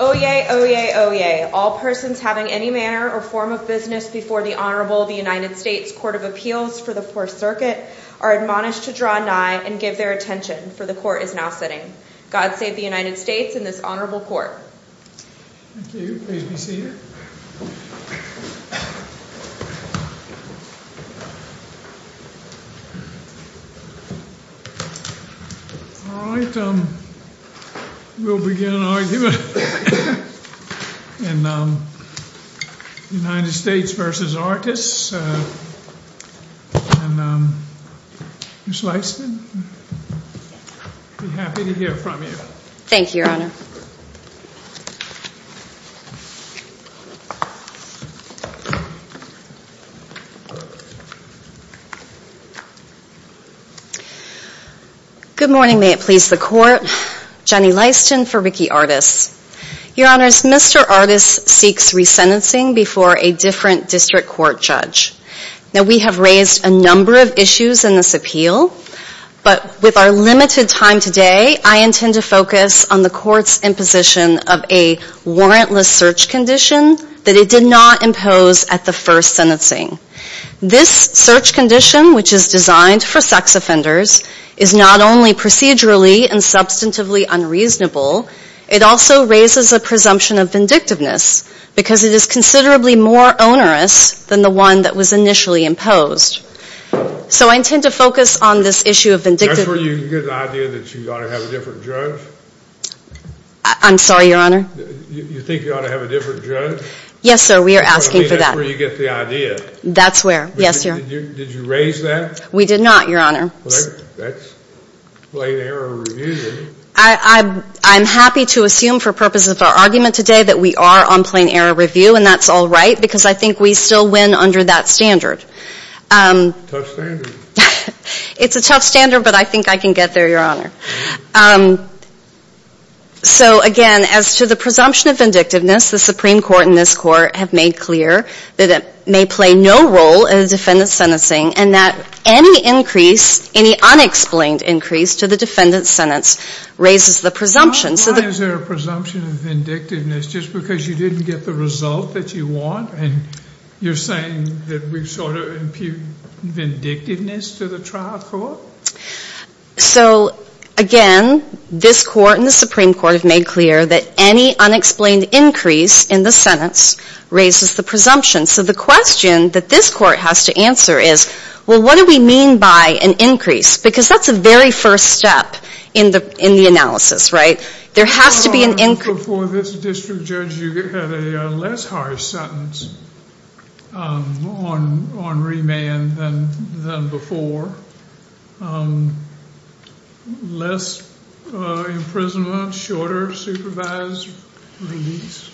Oyez, Oyez, Oyez, all persons having any manner or form of business before the Honorable of the United States Court of Appeals for the Fourth Circuit are admonished to draw nigh and give their attention, for the Court is now sitting. God save the United States and this Honorable Court. Thank you, please be seated. All right, we'll begin an argument in the United States v. Artis and Ms. Leifson, I'd be happy to hear from you. Thank you, Your Honor. Good morning, may it please the Court. Jenny Leifson for Ricky Artis. Your Honors, Mr. Artis seeks resentencing before a different district court judge. Now we have raised a number of issues in this appeal, but with our limited time today, I intend to focus on the Court's imposition of a warrantless search condition that it did not impose at the first sentencing. This search condition, which is designed for sex offenders, is not only procedurally and substantively unreasonable, it also raises a presumption of vindictiveness, because it is considerably more onerous than the one that was raised. That's where you get the idea that you ought to have a different judge? I'm sorry, Your Honor? You think you ought to have a different judge? Yes, sir, we are asking for that. That's where you get the idea. That's where, yes, Your Honor. Did you raise that? We did not, Your Honor. Well, that's plain error review, then. I'm happy to assume for purposes of our argument today that we are on plain error review, and that's all right, because I think we still win under that standard. Tough standard. It's a tough standard, but I think I can get there, Your Honor. So, again, as to the presumption of vindictiveness, the Supreme Court and this Court have made clear that it may play no role in the defendant's sentencing, and that any increase, any unexplained increase to the defendant's sentence raises the presumption. Why is there a presumption of vindictiveness? Just because you didn't get the result that you want, and you're saying that we sort of impute vindictiveness to the trial court? So, again, this Court and the Supreme Court have made clear that any unexplained increase in the sentence raises the presumption. So the question that this Court has to answer is, well, what do we mean by an increase? Because that's the very first step in the analysis, right? There has to be an increase. Before this district judge, you had a less harsh sentence on remand than before. Less imprisonment, shorter supervised release?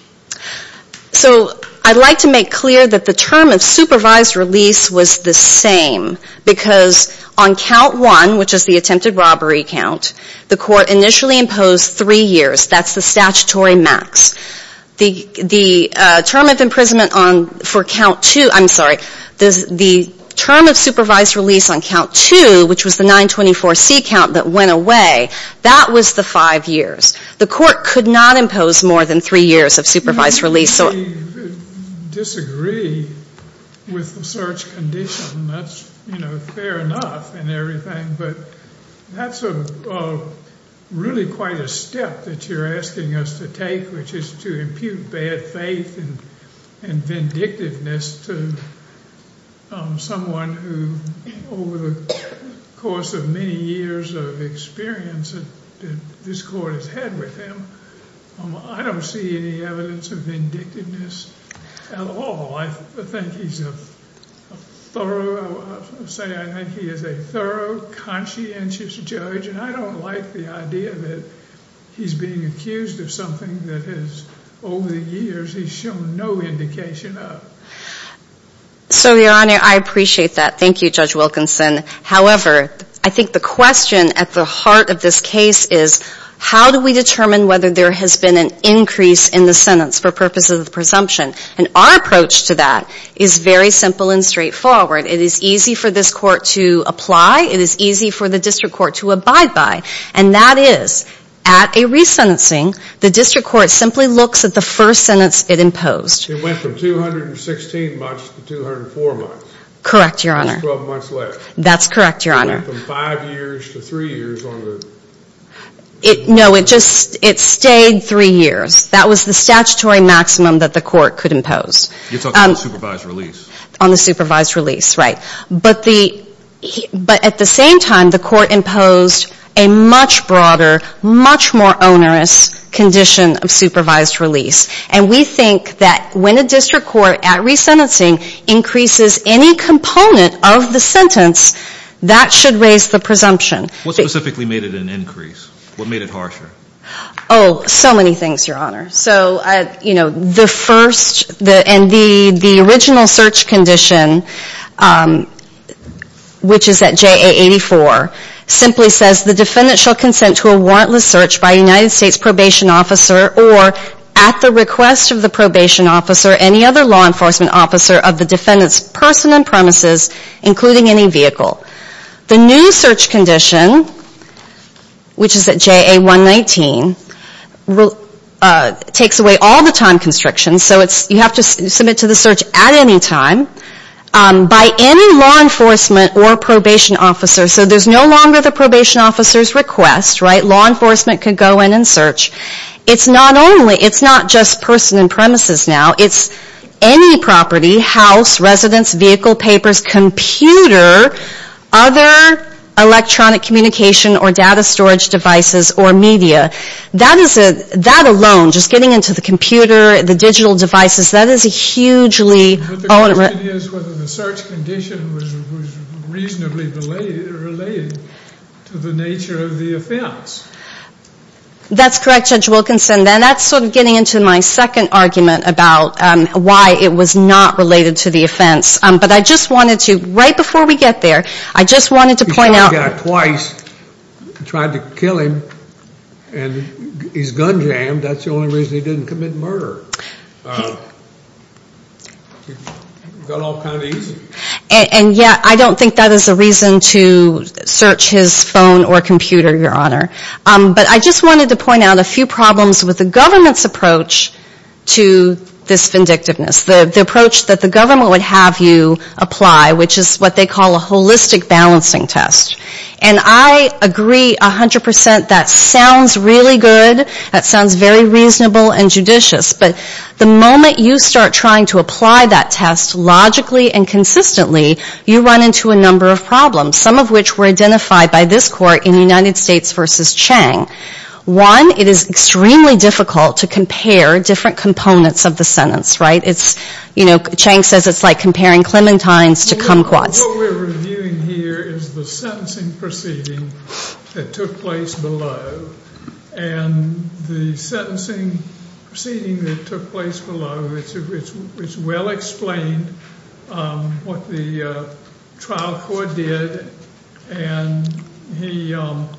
So I'd like to make clear that the term of supervised release was the same, because on count one, which is the attempted robbery count, the Court initially imposed three years. That's the statutory max. The term of imprisonment for count two, I'm sorry, the term of supervised release on count two, which was the 924C count that went away, that was the five years. The Court could not impose more than three years of supervised release. We disagree with the search condition. That's, you know, fair enough and everything. But that's really quite a step that you're asking us to take, which is to impute bad faith and vindictiveness to someone who, over the course of many years of experience that this Court has had with him, I don't see any evidence of vindictiveness at all. I think he's a thorough, say, I think he is a thorough, conscientious judge, and I don't like the idea that he's being accused of something that has, over the years, he's shown no indication of. So, Your Honor, I appreciate that. Thank you, Judge Wilkinson. However, I think the question at the heart of this case is, how do we determine whether there has been an increase in the sentence for purposes of presumption? And our approach to that is very simple and straightforward. It is easy for this Court to apply. It is easy for the District Court to abide by. And that is, at a resentencing, the District Court simply looks at the first sentence it imposed. It went from 216 months to 204 months. Correct, Your Honor. That's 12 months left. That's correct, Your Honor. It went from five years to three years on the... No, it just, it stayed three years. That was the statutory maximum that the Court could impose. It's on the supervised release. On the supervised release, right. But at the same time, the Court imposed a much broader, much more onerous condition of supervised release. And we think that when a District Court, at resentencing, increases any component of the sentence, that should raise the presumption. What specifically made it an increase? What made it harsher? Oh, so many things, Your Honor. So, you know, the first, and the original search condition, which is at JA 84, simply says the defendant shall consent to a warrantless search by a United States Probation Officer or, at the request of the Probation Officer, any other law enforcement officer of the defendant's person and premises, including any vehicle. The new search condition, which is at JA 119, takes away all the time constrictions, so you have to submit to the search at any time, by any law enforcement or probation officer. So there's no longer the Probation Officer's request, right. Law enforcement can go in and search. It's not only, it's not just person and premises now. It's any property, house, residence, vehicle, papers, computer, other electronic communication or data storage devices or media. That alone, just getting into the computer, the digital devices, that is a hugely... But the question is whether the search condition was reasonably related to the nature of the offense. That's correct, Judge Wilkinson. And that's sort of getting into my second argument about why it was not related to the offense. But I just wanted to, right before we get there, I just wanted to point out... He shot a guy twice, tried to kill him, and he's gun jammed. That's the only reason he didn't commit murder. Got off kind of easy. And yet, I don't think that is a reason to search his phone or computer, Your Honor. But I just wanted to point out a few problems with the government's approach to this vindictiveness. The approach that the government would have you apply, which is what they call a holistic balancing test. And I agree 100% that sounds really good. That sounds very reasonable and judicious. But the moment you start trying to apply that test logically and consistently, you run into a number of problems. Some of which were identified by this court in United States v. Chang. One, it is extremely difficult to compare different components of the sentence, right? Chang says it's like comparing clementines to kumquats. What we're reviewing here is the sentencing proceeding that took place below. And the sentencing proceeding that took place below, it's well explained what the trial court did. And he, let's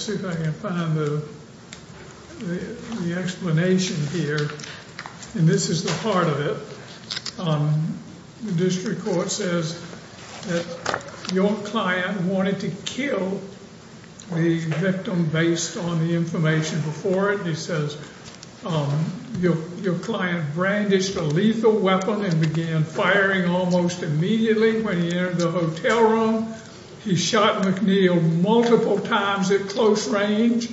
see if I can find the explanation here. And this is the heart of it. The district court says that your client wanted to kill the victim based on the information before it. He says your client brandished a lethal weapon and began firing almost immediately when he entered the hotel room. He shot McNeil multiple times at close range.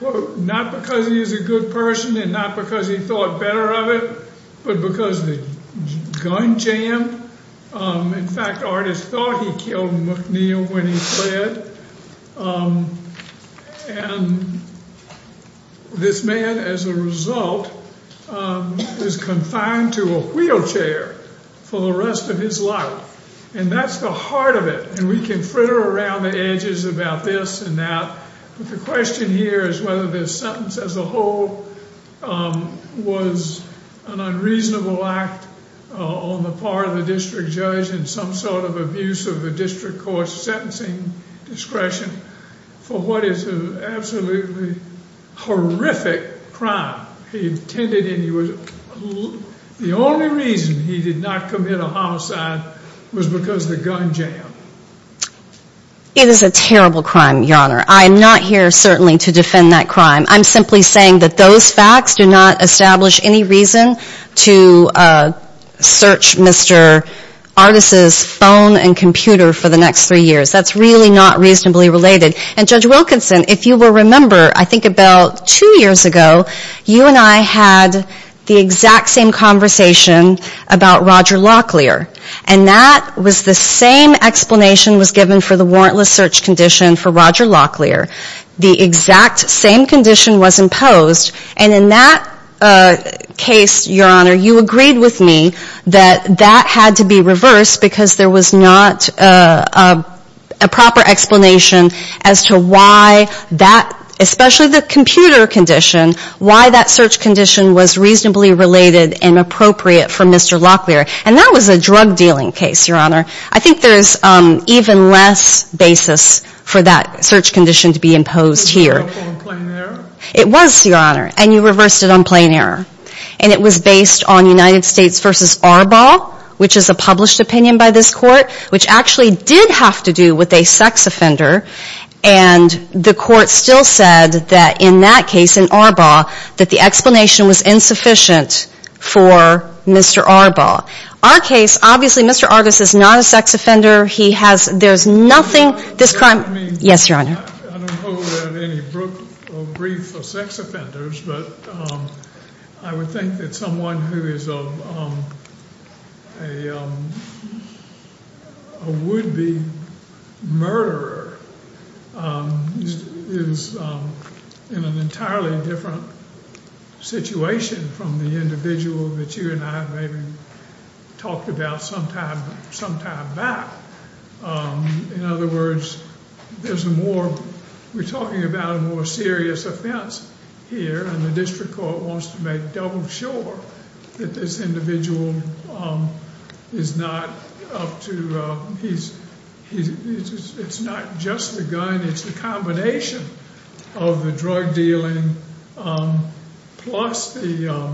Not because he's a good person and not because he thought better of it, but because the gun jammed. In fact, the artist thought he killed McNeil when he fled. And this man, as a result, is confined to a wheelchair for the rest of his life. And that's the heart of it. And we can fritter around the edges about this and that. But the question here is whether this sentence as a whole was an unreasonable act on the part of the district judge and some sort of abuse of the district court's sentencing discretion for what is an absolutely horrific crime. The only reason he did not commit a homicide was because of the gun jam. It is a terrible crime, Your Honor. I'm not here, certainly, to defend that crime. I'm simply saying that those facts do not establish any reason to search Mr. Artis' phone and computer for the next three years. That's really not reasonably related. And Judge Wilkinson, if you will remember, I think about two years ago, you and I had the exact same conversation about Roger Locklear. And that was the same explanation was given for the warrantless search condition for Roger Locklear. The exact same condition was imposed. And in that case, Your Honor, you agreed with me that that had to be reversed because there was not a proper explanation as to why that, especially the computer condition, why that search condition was reasonably related and appropriate for Mr. Locklear. And that was a drug dealing case, Your Honor. I think there's even less basis for that search condition to be imposed here. It was, Your Honor, and you reversed it on plain error. And it was based on United States v. Arbaugh, which is a published opinion by this court, which actually did have to do with a sex offender. And the court still said that in that case, in Arbaugh, that the explanation was insufficient for Mr. Arbaugh. Our case, obviously, Mr. Artis is not a sex offender. He has, there's nothing, this crime. Yes, Your Honor. I don't hold out any grief for sex offenders, but I would think that someone who is a would-be murderer is in an entirely different situation from the individual that you and I have maybe talked about sometime back. In other words, there's a more, we're talking about a more serious offense here, and the district court wants to make double sure that this individual is not up to, it's not just the gun, it's the combination of the drug dealing plus the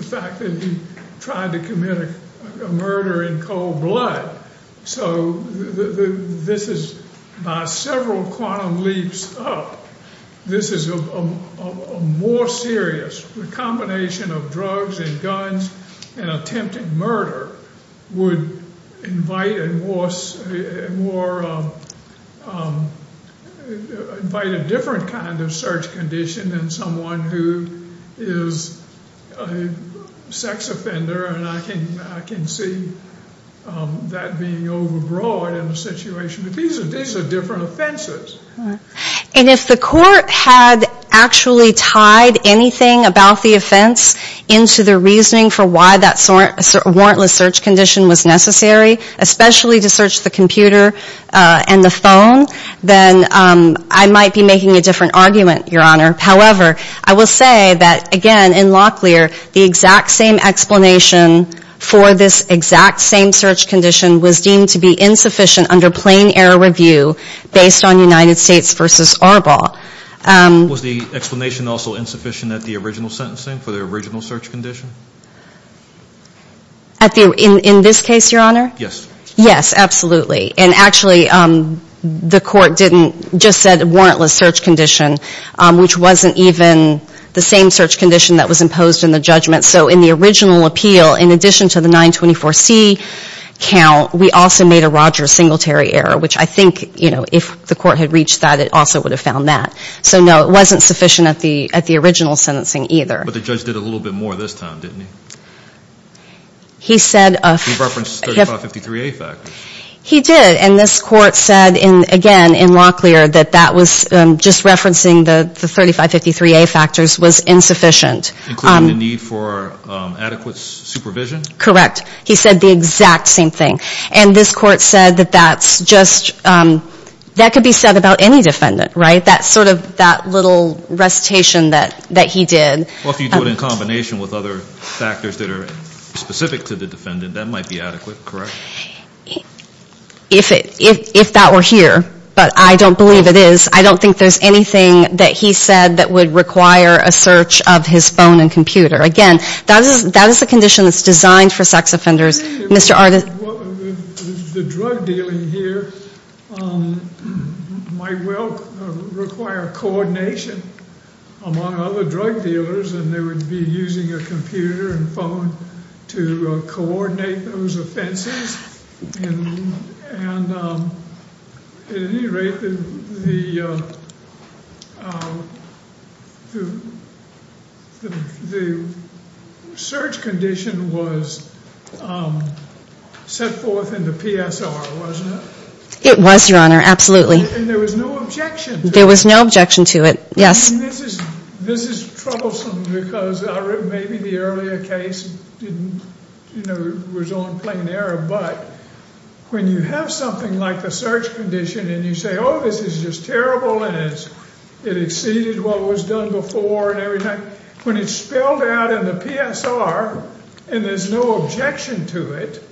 fact that he tried to commit a murder in cold blood. So this is, by several quantum leaps up, this is a more serious, the combination of drugs and guns and attempting murder would invite a different kind of search condition than someone who is a sex offender, and I can see that being overbroad in the situation. These are different offenses. And if the court had actually tied anything about the offense into the reasoning for why that warrantless search condition was necessary, especially to search the computer and the phone, then I might be making a different argument, Your Honor. However, I will say that, again, in Locklear, the exact same explanation for this exact same search condition was deemed to be insufficient under plain error review based on United States v. Arbol. Was the explanation also insufficient at the original sentencing for the original search condition? At the, in this case, Your Honor? Yes. Yes, absolutely. And actually, the court didn't, just said warrantless search condition, which wasn't even the same search condition that was imposed in the judgment. So in the original appeal, in addition to the 924C count, we also made a Rogers Singletary error, which I think, you know, if the court had reached that, it also would have found that. So, no, it wasn't sufficient at the original sentencing either. But the judge did a little bit more this time, didn't he? He said. He referenced 3553A factors. He did. And this court said, again, in Locklear, that that was, just referencing the 3553A factors was insufficient. Including the need for adequate supervision? Correct. He said the exact same thing. And this court said that that's just, that could be said about any defendant, right? That sort of, that little recitation that he did. Well, if you do it in combination with other factors that are specific to the defendant, that might be adequate, correct? If that were here, but I don't believe it is. I don't think there's anything that he said that would require a search of his phone and computer. Again, that is a condition that's designed for sex offenders. Mr. Arden. The drug dealing here might well require coordination among other drug dealers, and they would be using a computer and phone to coordinate those offenses. And at any rate, the search condition was set forth in the PSR, wasn't it? It was, Your Honor, absolutely. And there was no objection to it? There was no objection to it, yes. This is troublesome because maybe the earlier case didn't, you know, was on plain error, but when you have something like the search condition and you say, oh, this is just terrible, and it exceeded what was done before and everything, when it's spelled out in the PSR and there's no objection to it,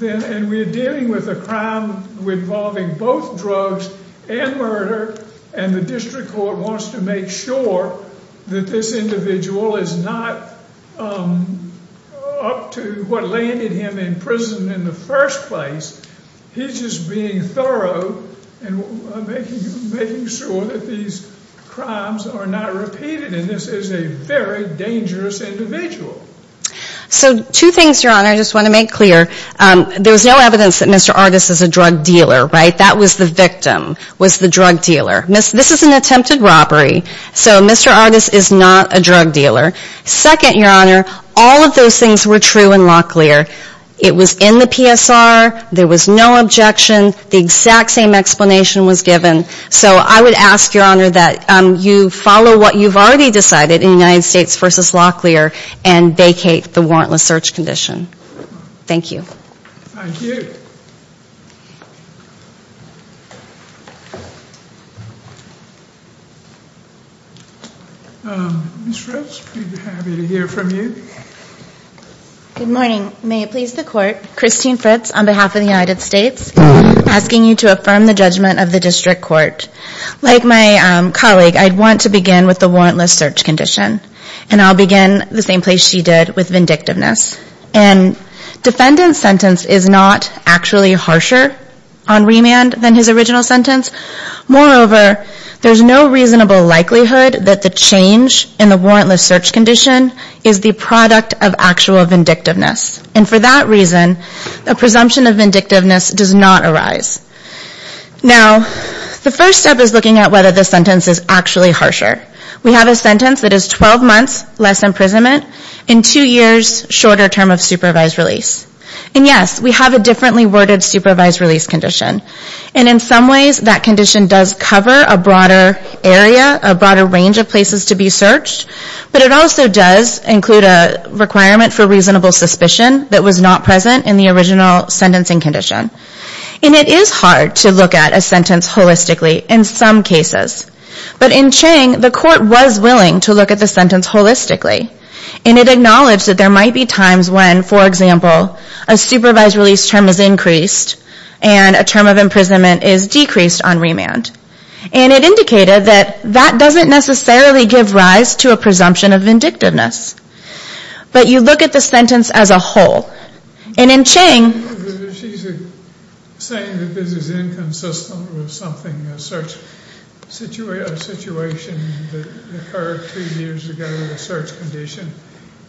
and we're dealing with a crime involving both drugs and murder, and the district court wants to make sure that this individual is not up to what landed him in prison in the first place. He's just being thorough and making sure that these crimes are not repeated, and this is a very dangerous individual. So two things, Your Honor, I just want to make clear. There's no evidence that Mr. Artis is a drug dealer, right? That was the victim, was the drug dealer. This is an attempted robbery, so Mr. Artis is not a drug dealer. Second, Your Honor, all of those things were true in Locklear. It was in the PSR. There was no objection. The exact same explanation was given. So I would ask, Your Honor, that you follow what you've already decided in the United States versus Locklear and vacate the warrantless search condition. Thank you. Thank you. Ms. Fritz, we'd be happy to hear from you. Good morning. May it please the Court, Christine Fritz on behalf of the United States, asking you to affirm the judgment of the district court. Like my colleague, I'd want to begin with the warrantless search condition, and I'll begin the same place she did with vindictiveness. And defendant's sentence is not actually harsher on remand than his original sentence. Moreover, there's no reasonable likelihood that the change in the warrantless search condition is the product of actual vindictiveness. And for that reason, a presumption of vindictiveness does not arise. Now, the first step is looking at whether the sentence is actually harsher. We have a sentence that is 12 months less imprisonment and two years shorter term of supervised release. And yes, we have a differently worded supervised release condition. And in some ways, that condition does cover a broader area, a broader range of places to be searched. But it also does include a requirement for reasonable suspicion that was not present in the original sentencing condition. And it is hard to look at a sentence holistically in some cases. But in Chang, the court was willing to look at the sentence holistically. And it acknowledged that there might be times when, for example, a supervised release term is increased and a term of imprisonment is decreased on remand. And it indicated that that doesn't necessarily give rise to a presumption of vindictiveness. But you look at the sentence as a whole. And in Chang... She's saying that this is inconsistent with something, a search situation that occurred three years ago, the search condition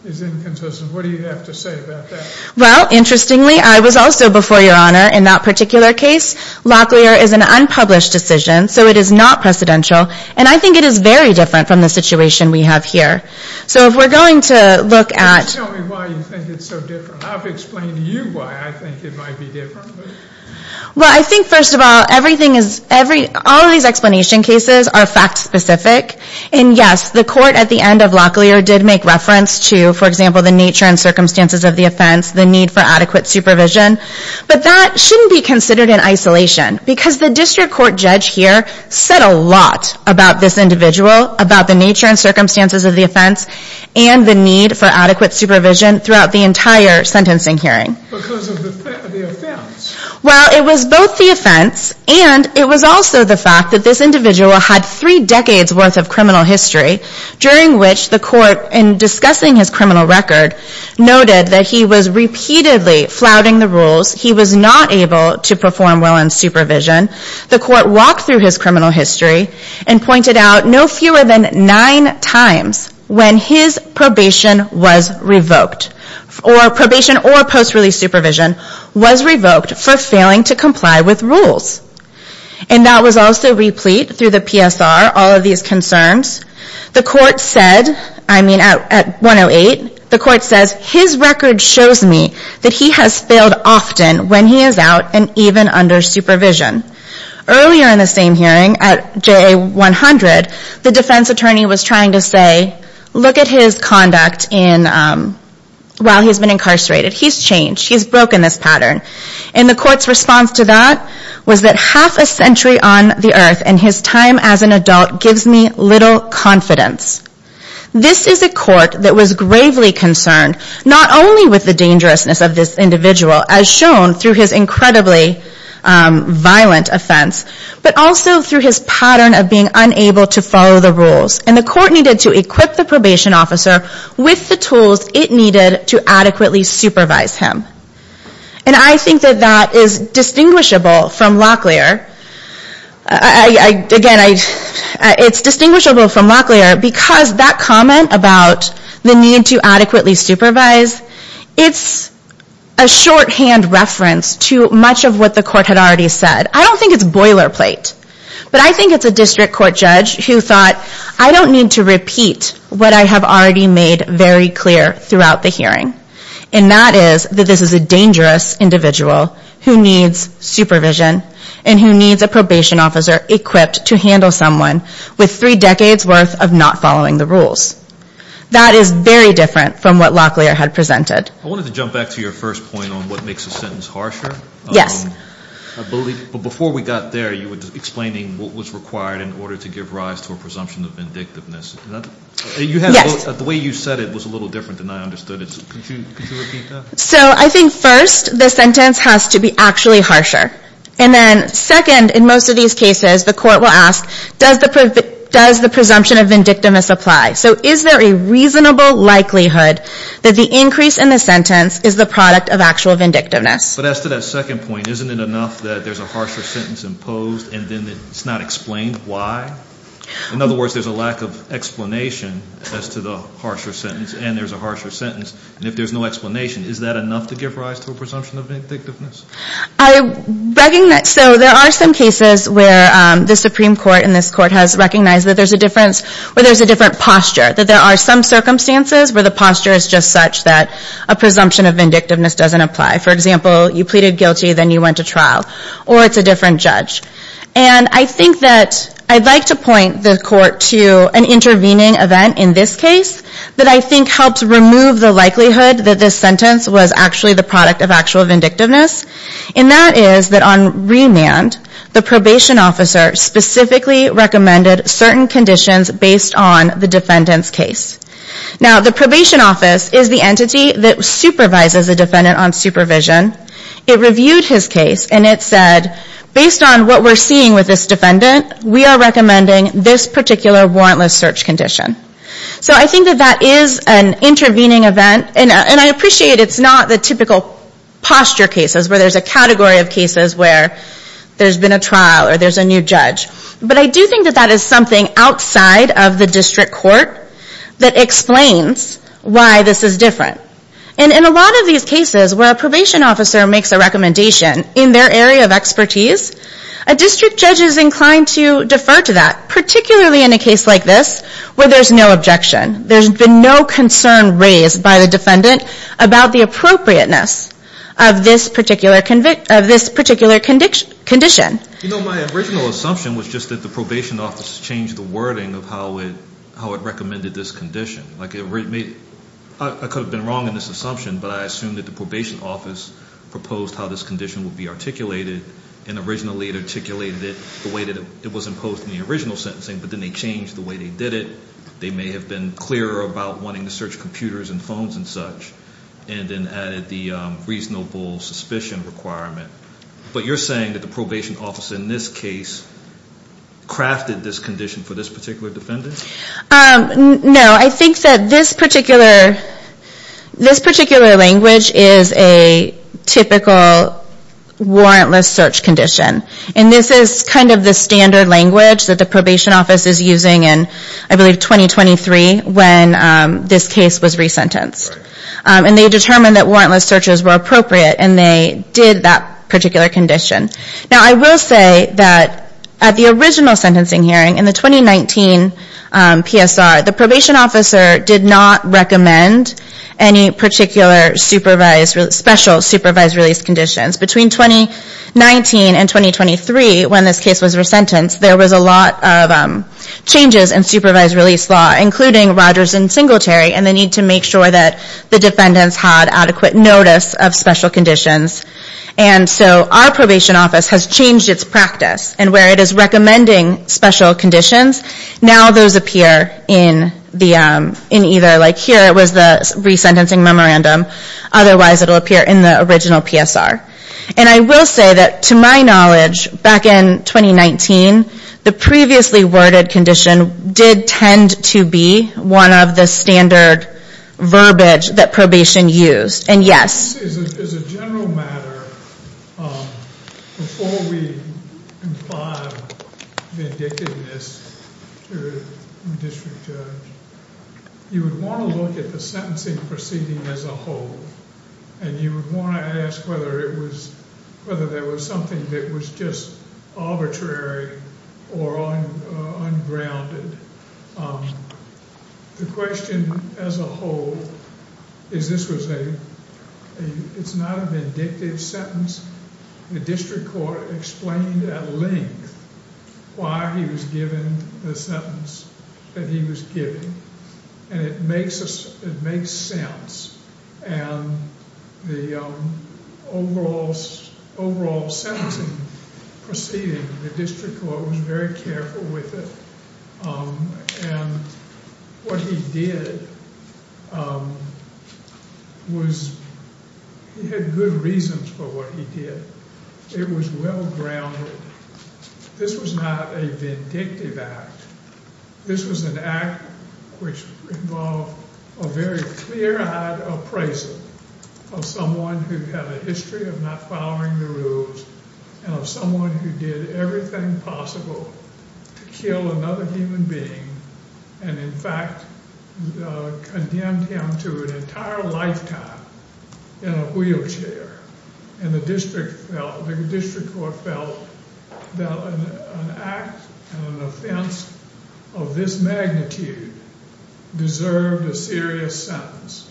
is inconsistent. What do you have to say about that? Well, interestingly, I was also before Your Honor in that particular case. Locklear is an unpublished decision. So it is not precedential. And I think it is very different from the situation we have here. So if we're going to look at... Tell me why you think it's so different. I've explained to you why I think it might be different. Well, I think, first of all, all of these explanation cases are fact-specific. And yes, the court at the end of Locklear did make reference to, for example, the nature and circumstances of the offense, the need for adequate supervision. But that shouldn't be considered in isolation. Because the district court judge here said a lot about this individual, about the nature and circumstances of the offense, and the need for adequate supervision throughout the entire sentencing hearing. Because of the offense? Well, it was both the offense and it was also the fact that this individual had three decades' worth of criminal history, during which the court, in discussing his criminal record, noted that he was repeatedly flouting the rules. He was not able to perform well in supervision. The court walked through his criminal history and pointed out no fewer than nine times when his probation was revoked, or probation or post-release supervision, was revoked for failing to comply with rules. And that was also replete through the PSR, all of these concerns. The court said, I mean, at 108, the court says, his record shows me that he has failed often when he is out and even under supervision. Earlier in the same hearing, at JA 100, the defense attorney was trying to say, look at his conduct while he's been incarcerated. He's changed. He's broken this pattern. And the court's response to that was that half a century on the earth and his time as an adult gives me little confidence. This is a court that was gravely concerned, not only with the dangerousness of this individual, as shown through his incredibly violent offense, but also through his pattern of being unable to follow the rules. And the court needed to equip the probation officer with the tools it needed to adequately supervise him. And I think that that is distinguishable from Locklear. Again, it's distinguishable from Locklear because that comment about the need to adequately supervise, it's a shorthand reference to much of what the court had already said. I don't think it's boilerplate. But I think it's a district court judge who thought, I don't need to repeat what I have already made very clear throughout the hearing. And that is that this is a dangerous individual who needs supervision and who needs a probation officer equipped to handle someone with three decades' worth of not following the rules. That is very different from what Locklear had presented. I wanted to jump back to your first point on what makes a sentence harsher. Yes. But before we got there, you were explaining what was required in order to give rise to a presumption of vindictiveness. Yes. The way you said it was a little different than I understood it. Could you repeat that? So I think first, the sentence has to be actually harsher. And then second, in most of these cases, the court will ask, does the presumption of vindictiveness apply? So is there a reasonable likelihood that the increase in the sentence is the product of actual vindictiveness? But as to that second point, isn't it enough that there's a harsher sentence imposed and then it's not explained why? In other words, there's a lack of explanation as to the harsher sentence, and there's a harsher sentence. And if there's no explanation, is that enough to give rise to a presumption of vindictiveness? So there are some cases where the Supreme Court and this court has recognized that there's a difference, or there's a different posture, that there are some circumstances where the posture is just such that a presumption of vindictiveness doesn't apply. For example, you pleaded guilty, then you went to trial, or it's a different judge. And I think that I'd like to point the court to an intervening event in this case that I think helps remove the likelihood that this sentence was actually the product of actual vindictiveness. And that is that on remand, the probation officer specifically recommended certain conditions based on the defendant's case. Now, the probation office is the entity that supervises a defendant on supervision. It reviewed his case, and it said, based on what we're seeing with this defendant, we are recommending this particular warrantless search condition. So I think that that is an intervening event, and I appreciate it's not the typical posture cases where there's a category of cases where there's been a trial, or there's a new judge. But I do think that that is something outside of the district court that explains why this is different. And in a lot of these cases where a probation officer makes a recommendation in their area of expertise, a district judge is inclined to defer to that, particularly in a case like this where there's no objection. There's been no concern raised by the defendant about the appropriateness of this particular condition. You know, my original assumption was just that the probation office changed the wording of how it recommended this condition. Like, I could have been wrong in this assumption, but I assume that the probation office proposed how this condition would be articulated, and originally it articulated it the way that it was imposed in the original sentencing, but then they changed the way they did it. They may have been clearer about wanting to search computers and phones and such, and then added the reasonable suspicion requirement. But you're saying that the probation office in this case crafted this condition for this particular defendant? No, I think that this particular language is a typical warrantless search condition. And this is kind of the standard language that the probation office is using in, I believe, 2023 when this case was resentenced. And they determined that warrantless searches were appropriate, and they did that particular condition. Now, I will say that at the original sentencing hearing, in the 2019 PSR, the probation officer did not recommend any particular special supervised release conditions. Between 2019 and 2023, when this case was resentenced, there was a lot of changes in supervised release law, including Rogers and Singletary, and the need to make sure that the defendants had adequate notice of special conditions. And so our probation office has changed its practice, and where it is recommending special conditions, now those appear in either, like here it was the resentencing memorandum, otherwise it will appear in the original PSR. And I will say that, to my knowledge, back in 2019, the previously worded condition did tend to be one of the standard verbiage that probation used, and yes. As a general matter, before we comply with vindictiveness to a district judge, you would want to look at the sentencing proceeding as a whole, and you would want to ask whether there was something that was just arbitrary or ungrounded. The question as a whole is this was a, it's not a vindictive sentence. The district court explained at length why he was given the sentence that he was given, and it makes sense. And the overall sentencing proceeding, the district court was very careful with it. And what he did was he had good reasons for what he did. It was well grounded. This was not a vindictive act. This was an act which involved a very clear-eyed appraisal of someone who had a history of not following the rules and of someone who did everything possible to kill another human being and, in fact, condemned him to an entire lifetime in a wheelchair. And the district court felt that an act and an offense of this magnitude deserved a serious sentence.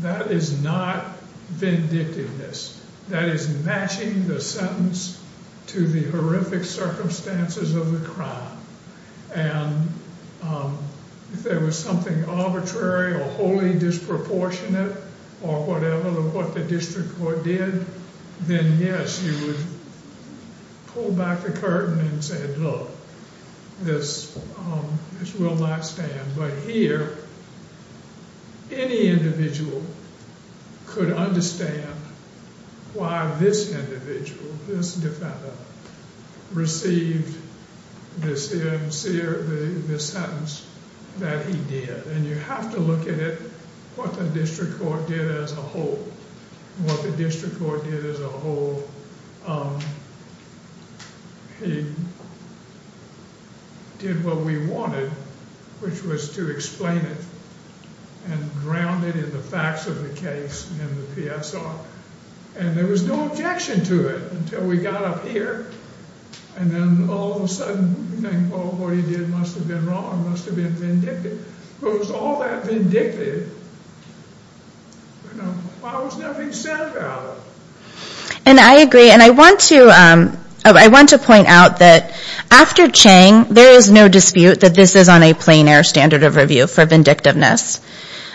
That is not vindictiveness. That is matching the sentence to the horrific circumstances of the crime. And if there was something arbitrary or wholly disproportionate or whatever that what the district court did, then, yes, you would pull back the curtain and say, look, this will not stand. But here, any individual could understand why this individual, this defendant, received this sentence that he did. And you have to look at it, what the district court did as a whole. What the district court did as a whole, he did what we wanted, which was to explain it and ground it in the facts of the case and the PSR. And there was no objection to it until we got up here. And then all of a sudden, what he did must have been wrong, must have been vindictive. But it was all that vindictive. Why was nothing said about it? And I agree. And I want to point out that after Chang, there is no dispute that this is on a plein air standard of review for vindictiveness.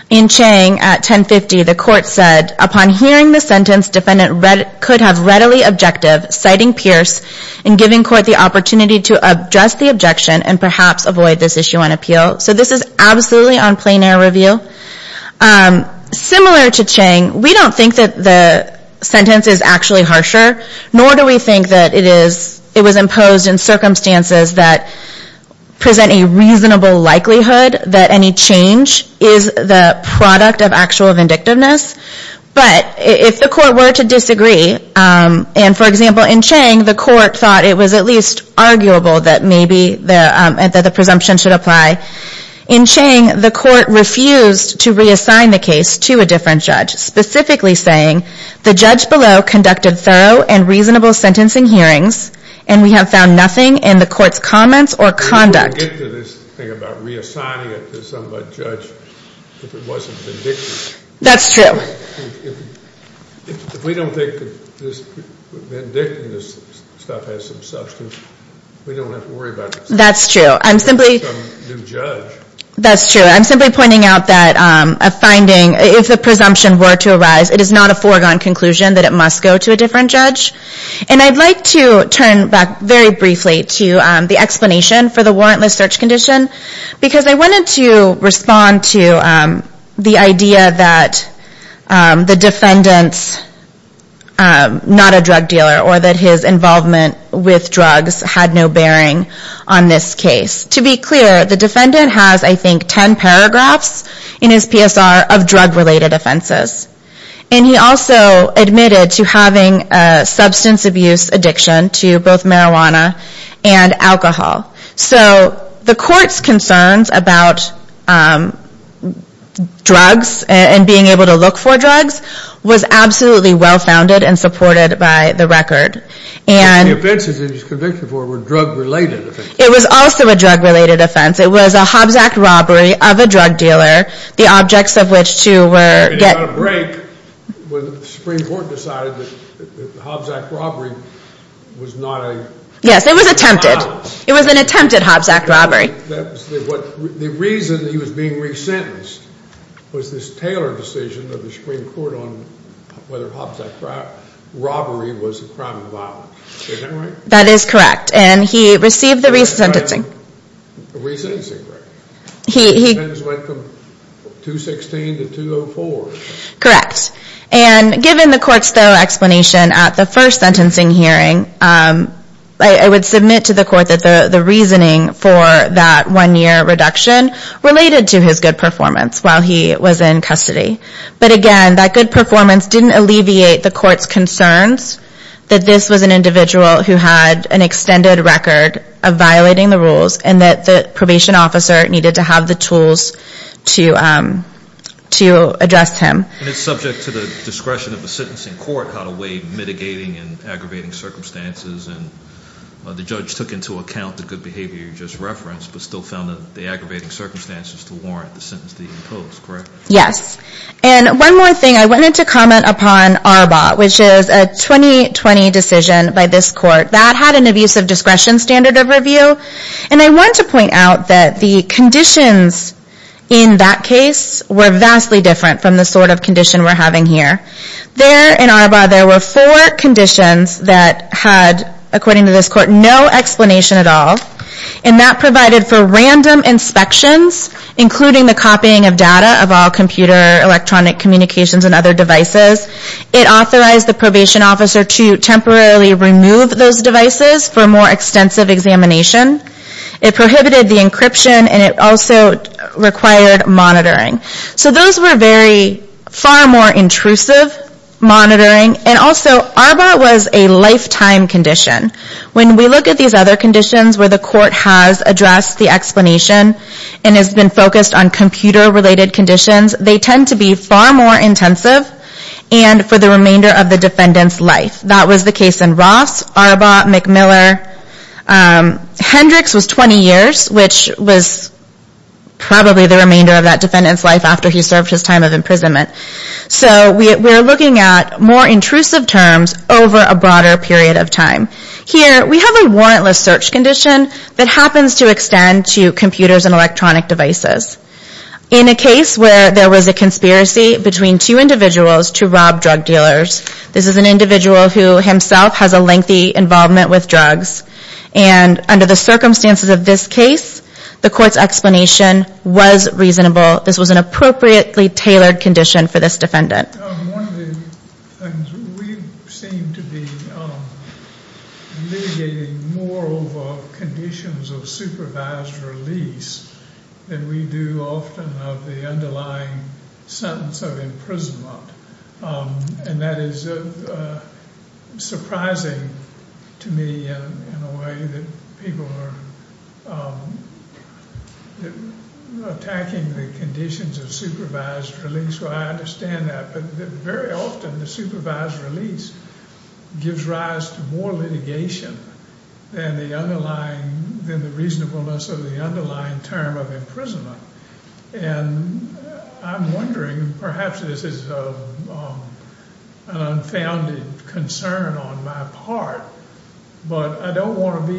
In Chang, at 1050, the court said, upon hearing the sentence, defendant could have readily objective, citing Pierce and giving court the opportunity to address the objection and perhaps avoid this issue on appeal. So this is absolutely on plein air review. Similar to Chang, we don't think that the sentence is actually harsher, nor do we think that it was imposed in circumstances that present a reasonable likelihood that any change is the product of actual vindictiveness. But if the court were to disagree, and, for example, in Chang, the court thought it was at least arguable that maybe the presumption should apply. In Chang, the court refused to reassign the case to a different judge, specifically saying, the judge below conducted thorough and reasonable sentencing hearings, and we have found nothing in the court's comments or conduct. I didn't want to get to this thing about reassigning it to some judge if it wasn't vindictive. That's true. If we don't think that this vindictiveness stuff has some substance, we don't have to worry about it. That's true. I'm simply pointing out that a finding, if the presumption were to arise, it is not a foregone conclusion that it must go to a different judge. And I'd like to turn back very briefly to the explanation for the warrantless search condition, because I wanted to respond to the idea that the defendant's not a drug dealer or that his involvement with drugs had no bearing on this case. To be clear, the defendant has, I think, 10 paragraphs in his PSR of drug-related offenses, and he also admitted to having a substance abuse addiction to both marijuana and alcohol. So the court's concerns about drugs and being able to look for drugs was absolutely well-founded and supported by the record. The offenses that he's convicted for were drug-related offenses. It was also a drug-related offense. It was a Hobbs Act robbery of a drug dealer, the objects of which, too, were— And he got a break when the Supreme Court decided that the Hobbs Act robbery was not a— Yes, it was attempted. It was an attempted Hobbs Act robbery. The reason that he was being resentenced was this Taylor decision of the Supreme Court on whether Hobbs Act robbery was a crime of violence. Is that right? That is correct. And he received the resentencing. Resentencing, right. The sentence went from 216 to 204. Correct. And given the court's thorough explanation at the first sentencing hearing, I would submit to the court that the reasoning for that one-year reduction related to his good performance while he was in custody. But again, that good performance didn't alleviate the court's concerns that this was an individual who had an extended record of violating the rules and that the probation officer needed to have the tools to address him. And it's subject to the discretion of the sentencing court how to weigh mitigating and aggravating circumstances. And the judge took into account the good behavior you just referenced but still found the aggravating circumstances to warrant the sentence to be imposed. Correct? Yes. And one more thing. I wanted to comment upon ARBA, which is a 2020 decision by this court that had an abusive discretion standard of review. And I want to point out that the conditions in that case were vastly different from the sort of condition we're having here. There in ARBA, there were four conditions that had, according to this court, no explanation at all. And that provided for random inspections, including the copying of data of all computer electronic communications and other devices. It authorized the probation officer to temporarily remove those devices for more extensive examination. It prohibited the encryption, and it also required monitoring. So those were very, far more intrusive monitoring. And also, ARBA was a lifetime condition. When we look at these other conditions where the court has addressed the explanation and has been focused on computer-related conditions, they tend to be far more intensive and for the remainder of the defendant's life. That was the case in Ross, ARBA, McMiller. Hendricks was 20 years, which was probably the remainder of that defendant's life. after he served his time of imprisonment. So we're looking at more intrusive terms over a broader period of time. Here, we have a warrantless search condition that happens to extend to computers and electronic devices. In a case where there was a conspiracy between two individuals to rob drug dealers, this is an individual who himself has a lengthy involvement with drugs. And under the circumstances of this case, the court's explanation was reasonable. This was an appropriately tailored condition for this defendant. One of the things we seem to be litigating more over conditions of supervised release than we do often of the underlying sentence of imprisonment. And that is surprising to me in a way that people are attacking the conditions of supervised release. I understand that. But very often, the supervised release gives rise to more litigation than the reasonableness of the underlying term of imprisonment. And I'm wondering, perhaps this is an unfounded concern on my part, but I don't want to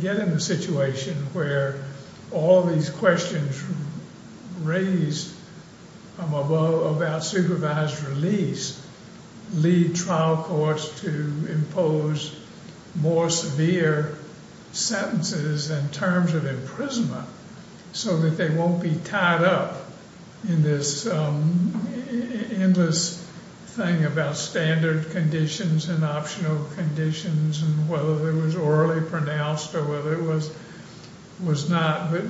get in a situation where all these questions raised above about supervised release lead trial courts to impose more severe sentences in terms of imprisonment so that they won't be tied up in this endless thing about standard conditions and optional conditions and whether it was orally pronounced or whether it was not. But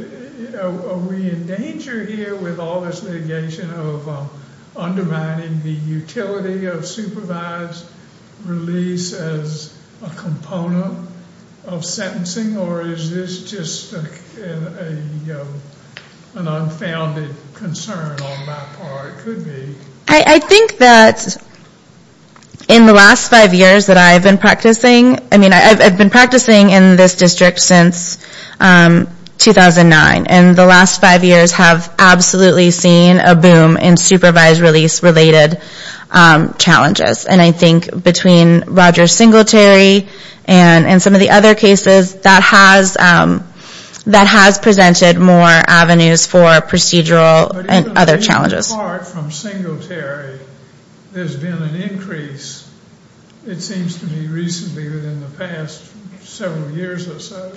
are we in danger here with all this litigation of undermining the utility of supervised release as a component of sentencing? Or is this just an unfounded concern on my part? It could be. I think that in the last five years that I've been practicing, I mean I've been practicing in this district since 2009. And the last five years have absolutely seen a boom in supervised release-related challenges. And I think between Rogers Singletary and some of the other cases, that has presented more avenues for procedural and other challenges. But even being apart from Singletary, there's been an increase, it seems to me recently within the past several years or so,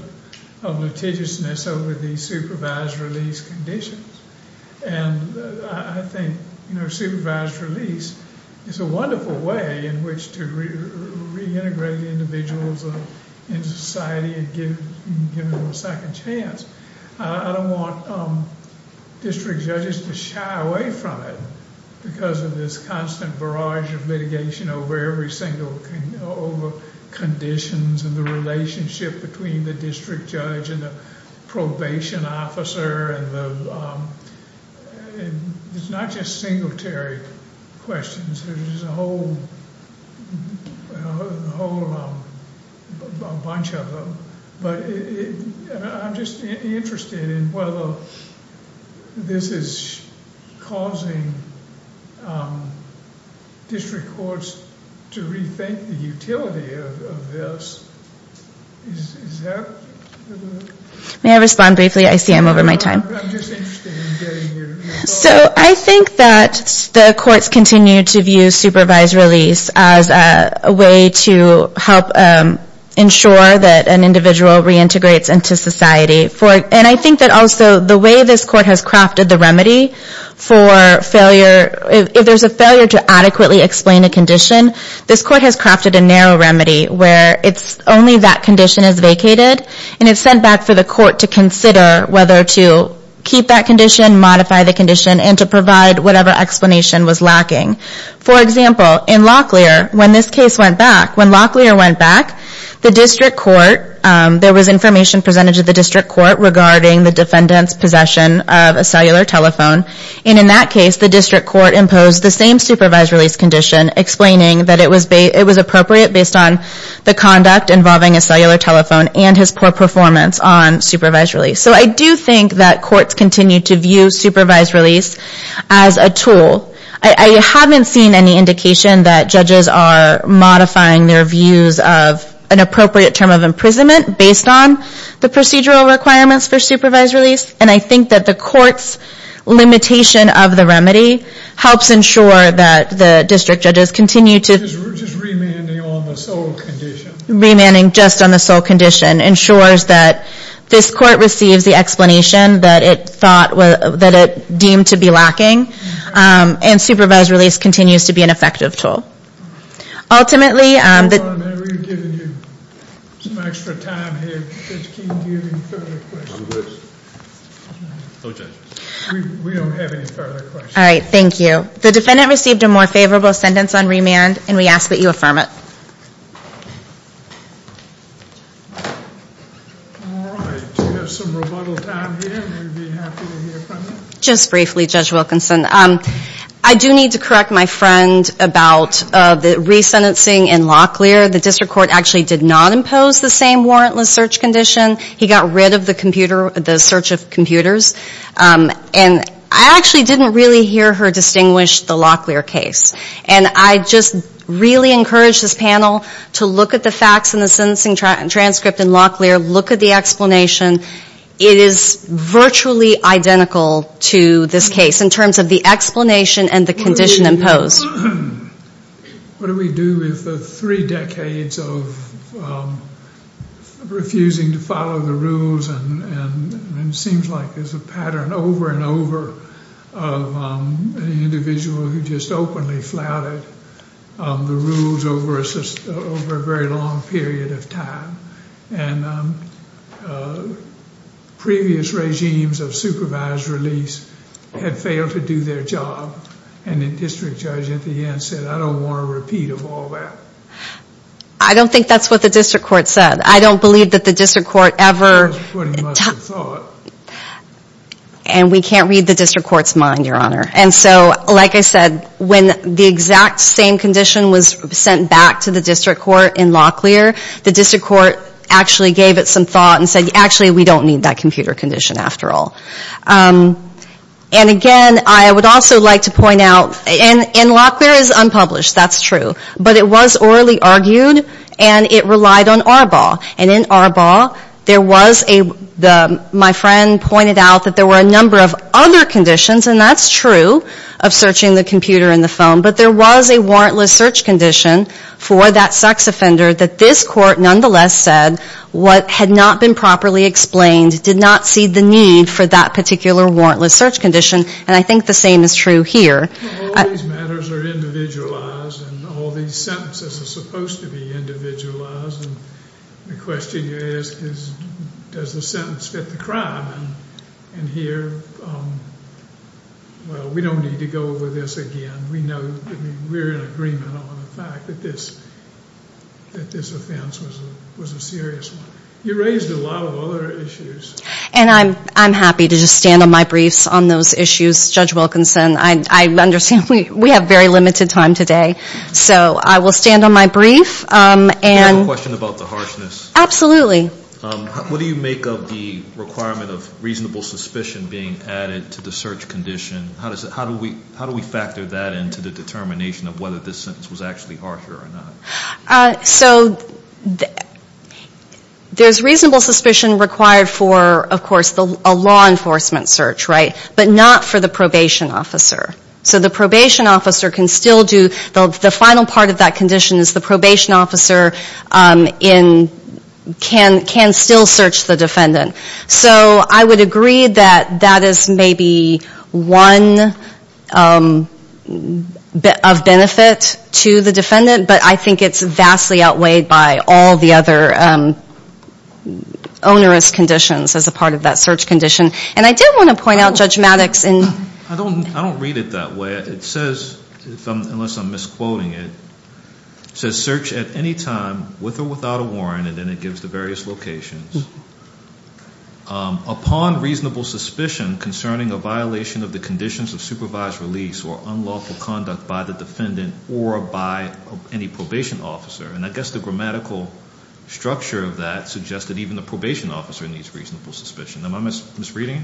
of litigiousness over the supervised release conditions. And I think supervised release is a wonderful way in which to reintegrate individuals into society and give them a second chance. I don't want district judges to shy away from it because of this constant barrage of litigation over conditions and the relationship between the district judge and the probation officer. It's not just Singletary questions. There's a whole bunch of them. I'm just interested in whether this is causing district courts to rethink the utility of this. May I respond briefly? I see I'm over my time. So I think that the courts continue to view supervised release as a way to help ensure that an individual reintegrates into society. And I think that also the way this court has crafted the remedy for failure, if there's a failure to adequately explain a condition, this court has crafted a narrow remedy where only that condition is vacated and it's sent back for the court to consider whether to keep that condition, modify the condition, and to provide whatever explanation was lacking. For example, in Locklear, when this case went back, there was information presented to the district court regarding the defendant's possession of a cellular telephone. And in that case, the district court imposed the same supervised release condition explaining that it was appropriate based on the conduct involving a cellular telephone and his poor performance on supervised release. So I do think that courts continue to view supervised release as a tool. I haven't seen any indication that judges are modifying their views of an appropriate term of imprisonment based on the procedural requirements for supervised release, and I think that the court's limitation of the remedy helps ensure that the district judges continue to... We're just remanding on the sole condition. Remanding just on the sole condition ensures that this court receives the explanation that it deemed to be lacking, and supervised release continues to be an effective tool. Ultimately... Hold on a minute, we're giving you some extra time here because we can't give you any further questions. We don't have any further questions. All right, thank you. The defendant received a more favorable sentence on remand, and we ask that you affirm it. All right, we have some rebuttals out here. We'd be happy to hear from you. Just briefly, Judge Wilkinson, I do need to correct my friend about the resentencing in Locklear. The district court actually did not impose the same warrantless search condition. He got rid of the search of computers, and I actually didn't really hear her distinguish the Locklear case, and I just really encourage this panel to look at the facts in the sentencing transcript in Locklear. Look at the explanation. It is virtually identical to this case in terms of the explanation and the condition imposed. What do we do with the three decades of refusing to follow the rules, and it seems like there's a pattern over and over of an individual who just openly flouted the rules over a very long period of time. Previous regimes of supervised release had failed to do their job, and the district judge at the end said, I don't want a repeat of all that. I don't think that's what the district court said. I don't believe that the district court ever... That's what he must have thought. And we can't read the district court's mind, Your Honor. And so, like I said, when the exact same condition was sent back to the district court in Locklear, the district court actually gave it some thought and said, actually, we don't need that computer condition after all. And again, I would also like to point out, and Locklear is unpublished, that's true, but it was orally argued, and it relied on Arbaugh. And in Arbaugh, there was a... My friend pointed out that there were a number of other conditions, and that's true, of searching the computer and the phone, but there was a warrantless search condition for that sex offender that this court nonetheless said what had not been properly explained did not see the need for that particular warrantless search condition, and I think the same is true here. All these matters are individualized, and all these sentences are supposed to be individualized, and the question you ask is, does the sentence fit the crime? And here, well, we don't need to go over this again. We're in agreement on the fact that this offense was a serious one. You raised a lot of other issues. And I'm happy to just stand on my briefs on those issues. Judge Wilkinson, I understand we have very limited time today, so I will stand on my brief. Do you have a question about the harshness? Absolutely. What do you make of the requirement of reasonable suspicion being added to the search condition? How do we factor that into the determination of whether this sentence was actually harsher or not? So there's reasonable suspicion required for, of course, a law enforcement search, right, but not for the probation officer. So the probation officer can still do... The final part of that condition is the probation officer can still search the defendant. So I would agree that that is maybe one of benefit to the defendant, but I think it's vastly outweighed by all the other onerous conditions as a part of that search condition. And I did want to point out, Judge Maddox... I don't read it that way. It says, unless I'm misquoting it, it says, search at any time with or without a warrant, and then it gives the various locations, upon reasonable suspicion concerning a violation of the conditions of supervised release or unlawful conduct by the defendant or by any probation officer. And I guess the grammatical structure of that suggests that even the probation officer needs reasonable suspicion. Am I misreading it?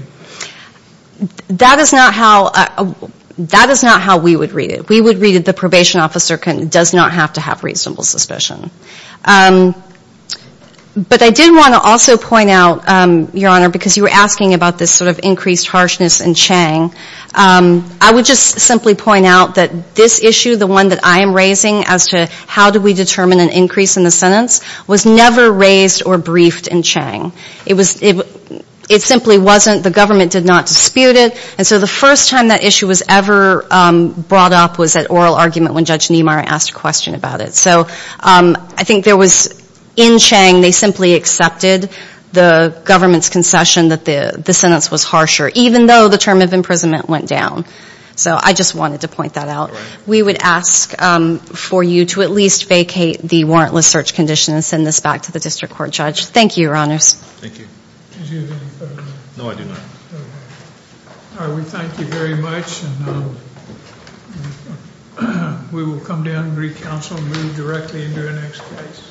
That is not how we would read it. We would read it the probation officer does not have to have reasonable suspicion. But I did want to also point out, Your Honor, because you were asking about this sort of increased harshness in Chang, I would just simply point out that this issue, the one that I am raising as to how do we determine an increase in the sentence, was never raised or briefed in Chang. It simply wasn't. The government did not dispute it. And so the first time that issue was ever brought up was at oral argument when Judge Niemeyer asked a question about it. So I think there was, in Chang, they simply accepted the government's concession that the sentence was harsher, even though the term of imprisonment went down. So I just wanted to point that out. We would ask for you to at least vacate the warrantless search condition and send this back to the District Court, Judge. Thank you, Your Honors. Thank you. Do you have any further? No, I do not. Okay. All right, we thank you very much. We will come down and recounsel and move directly into our next case.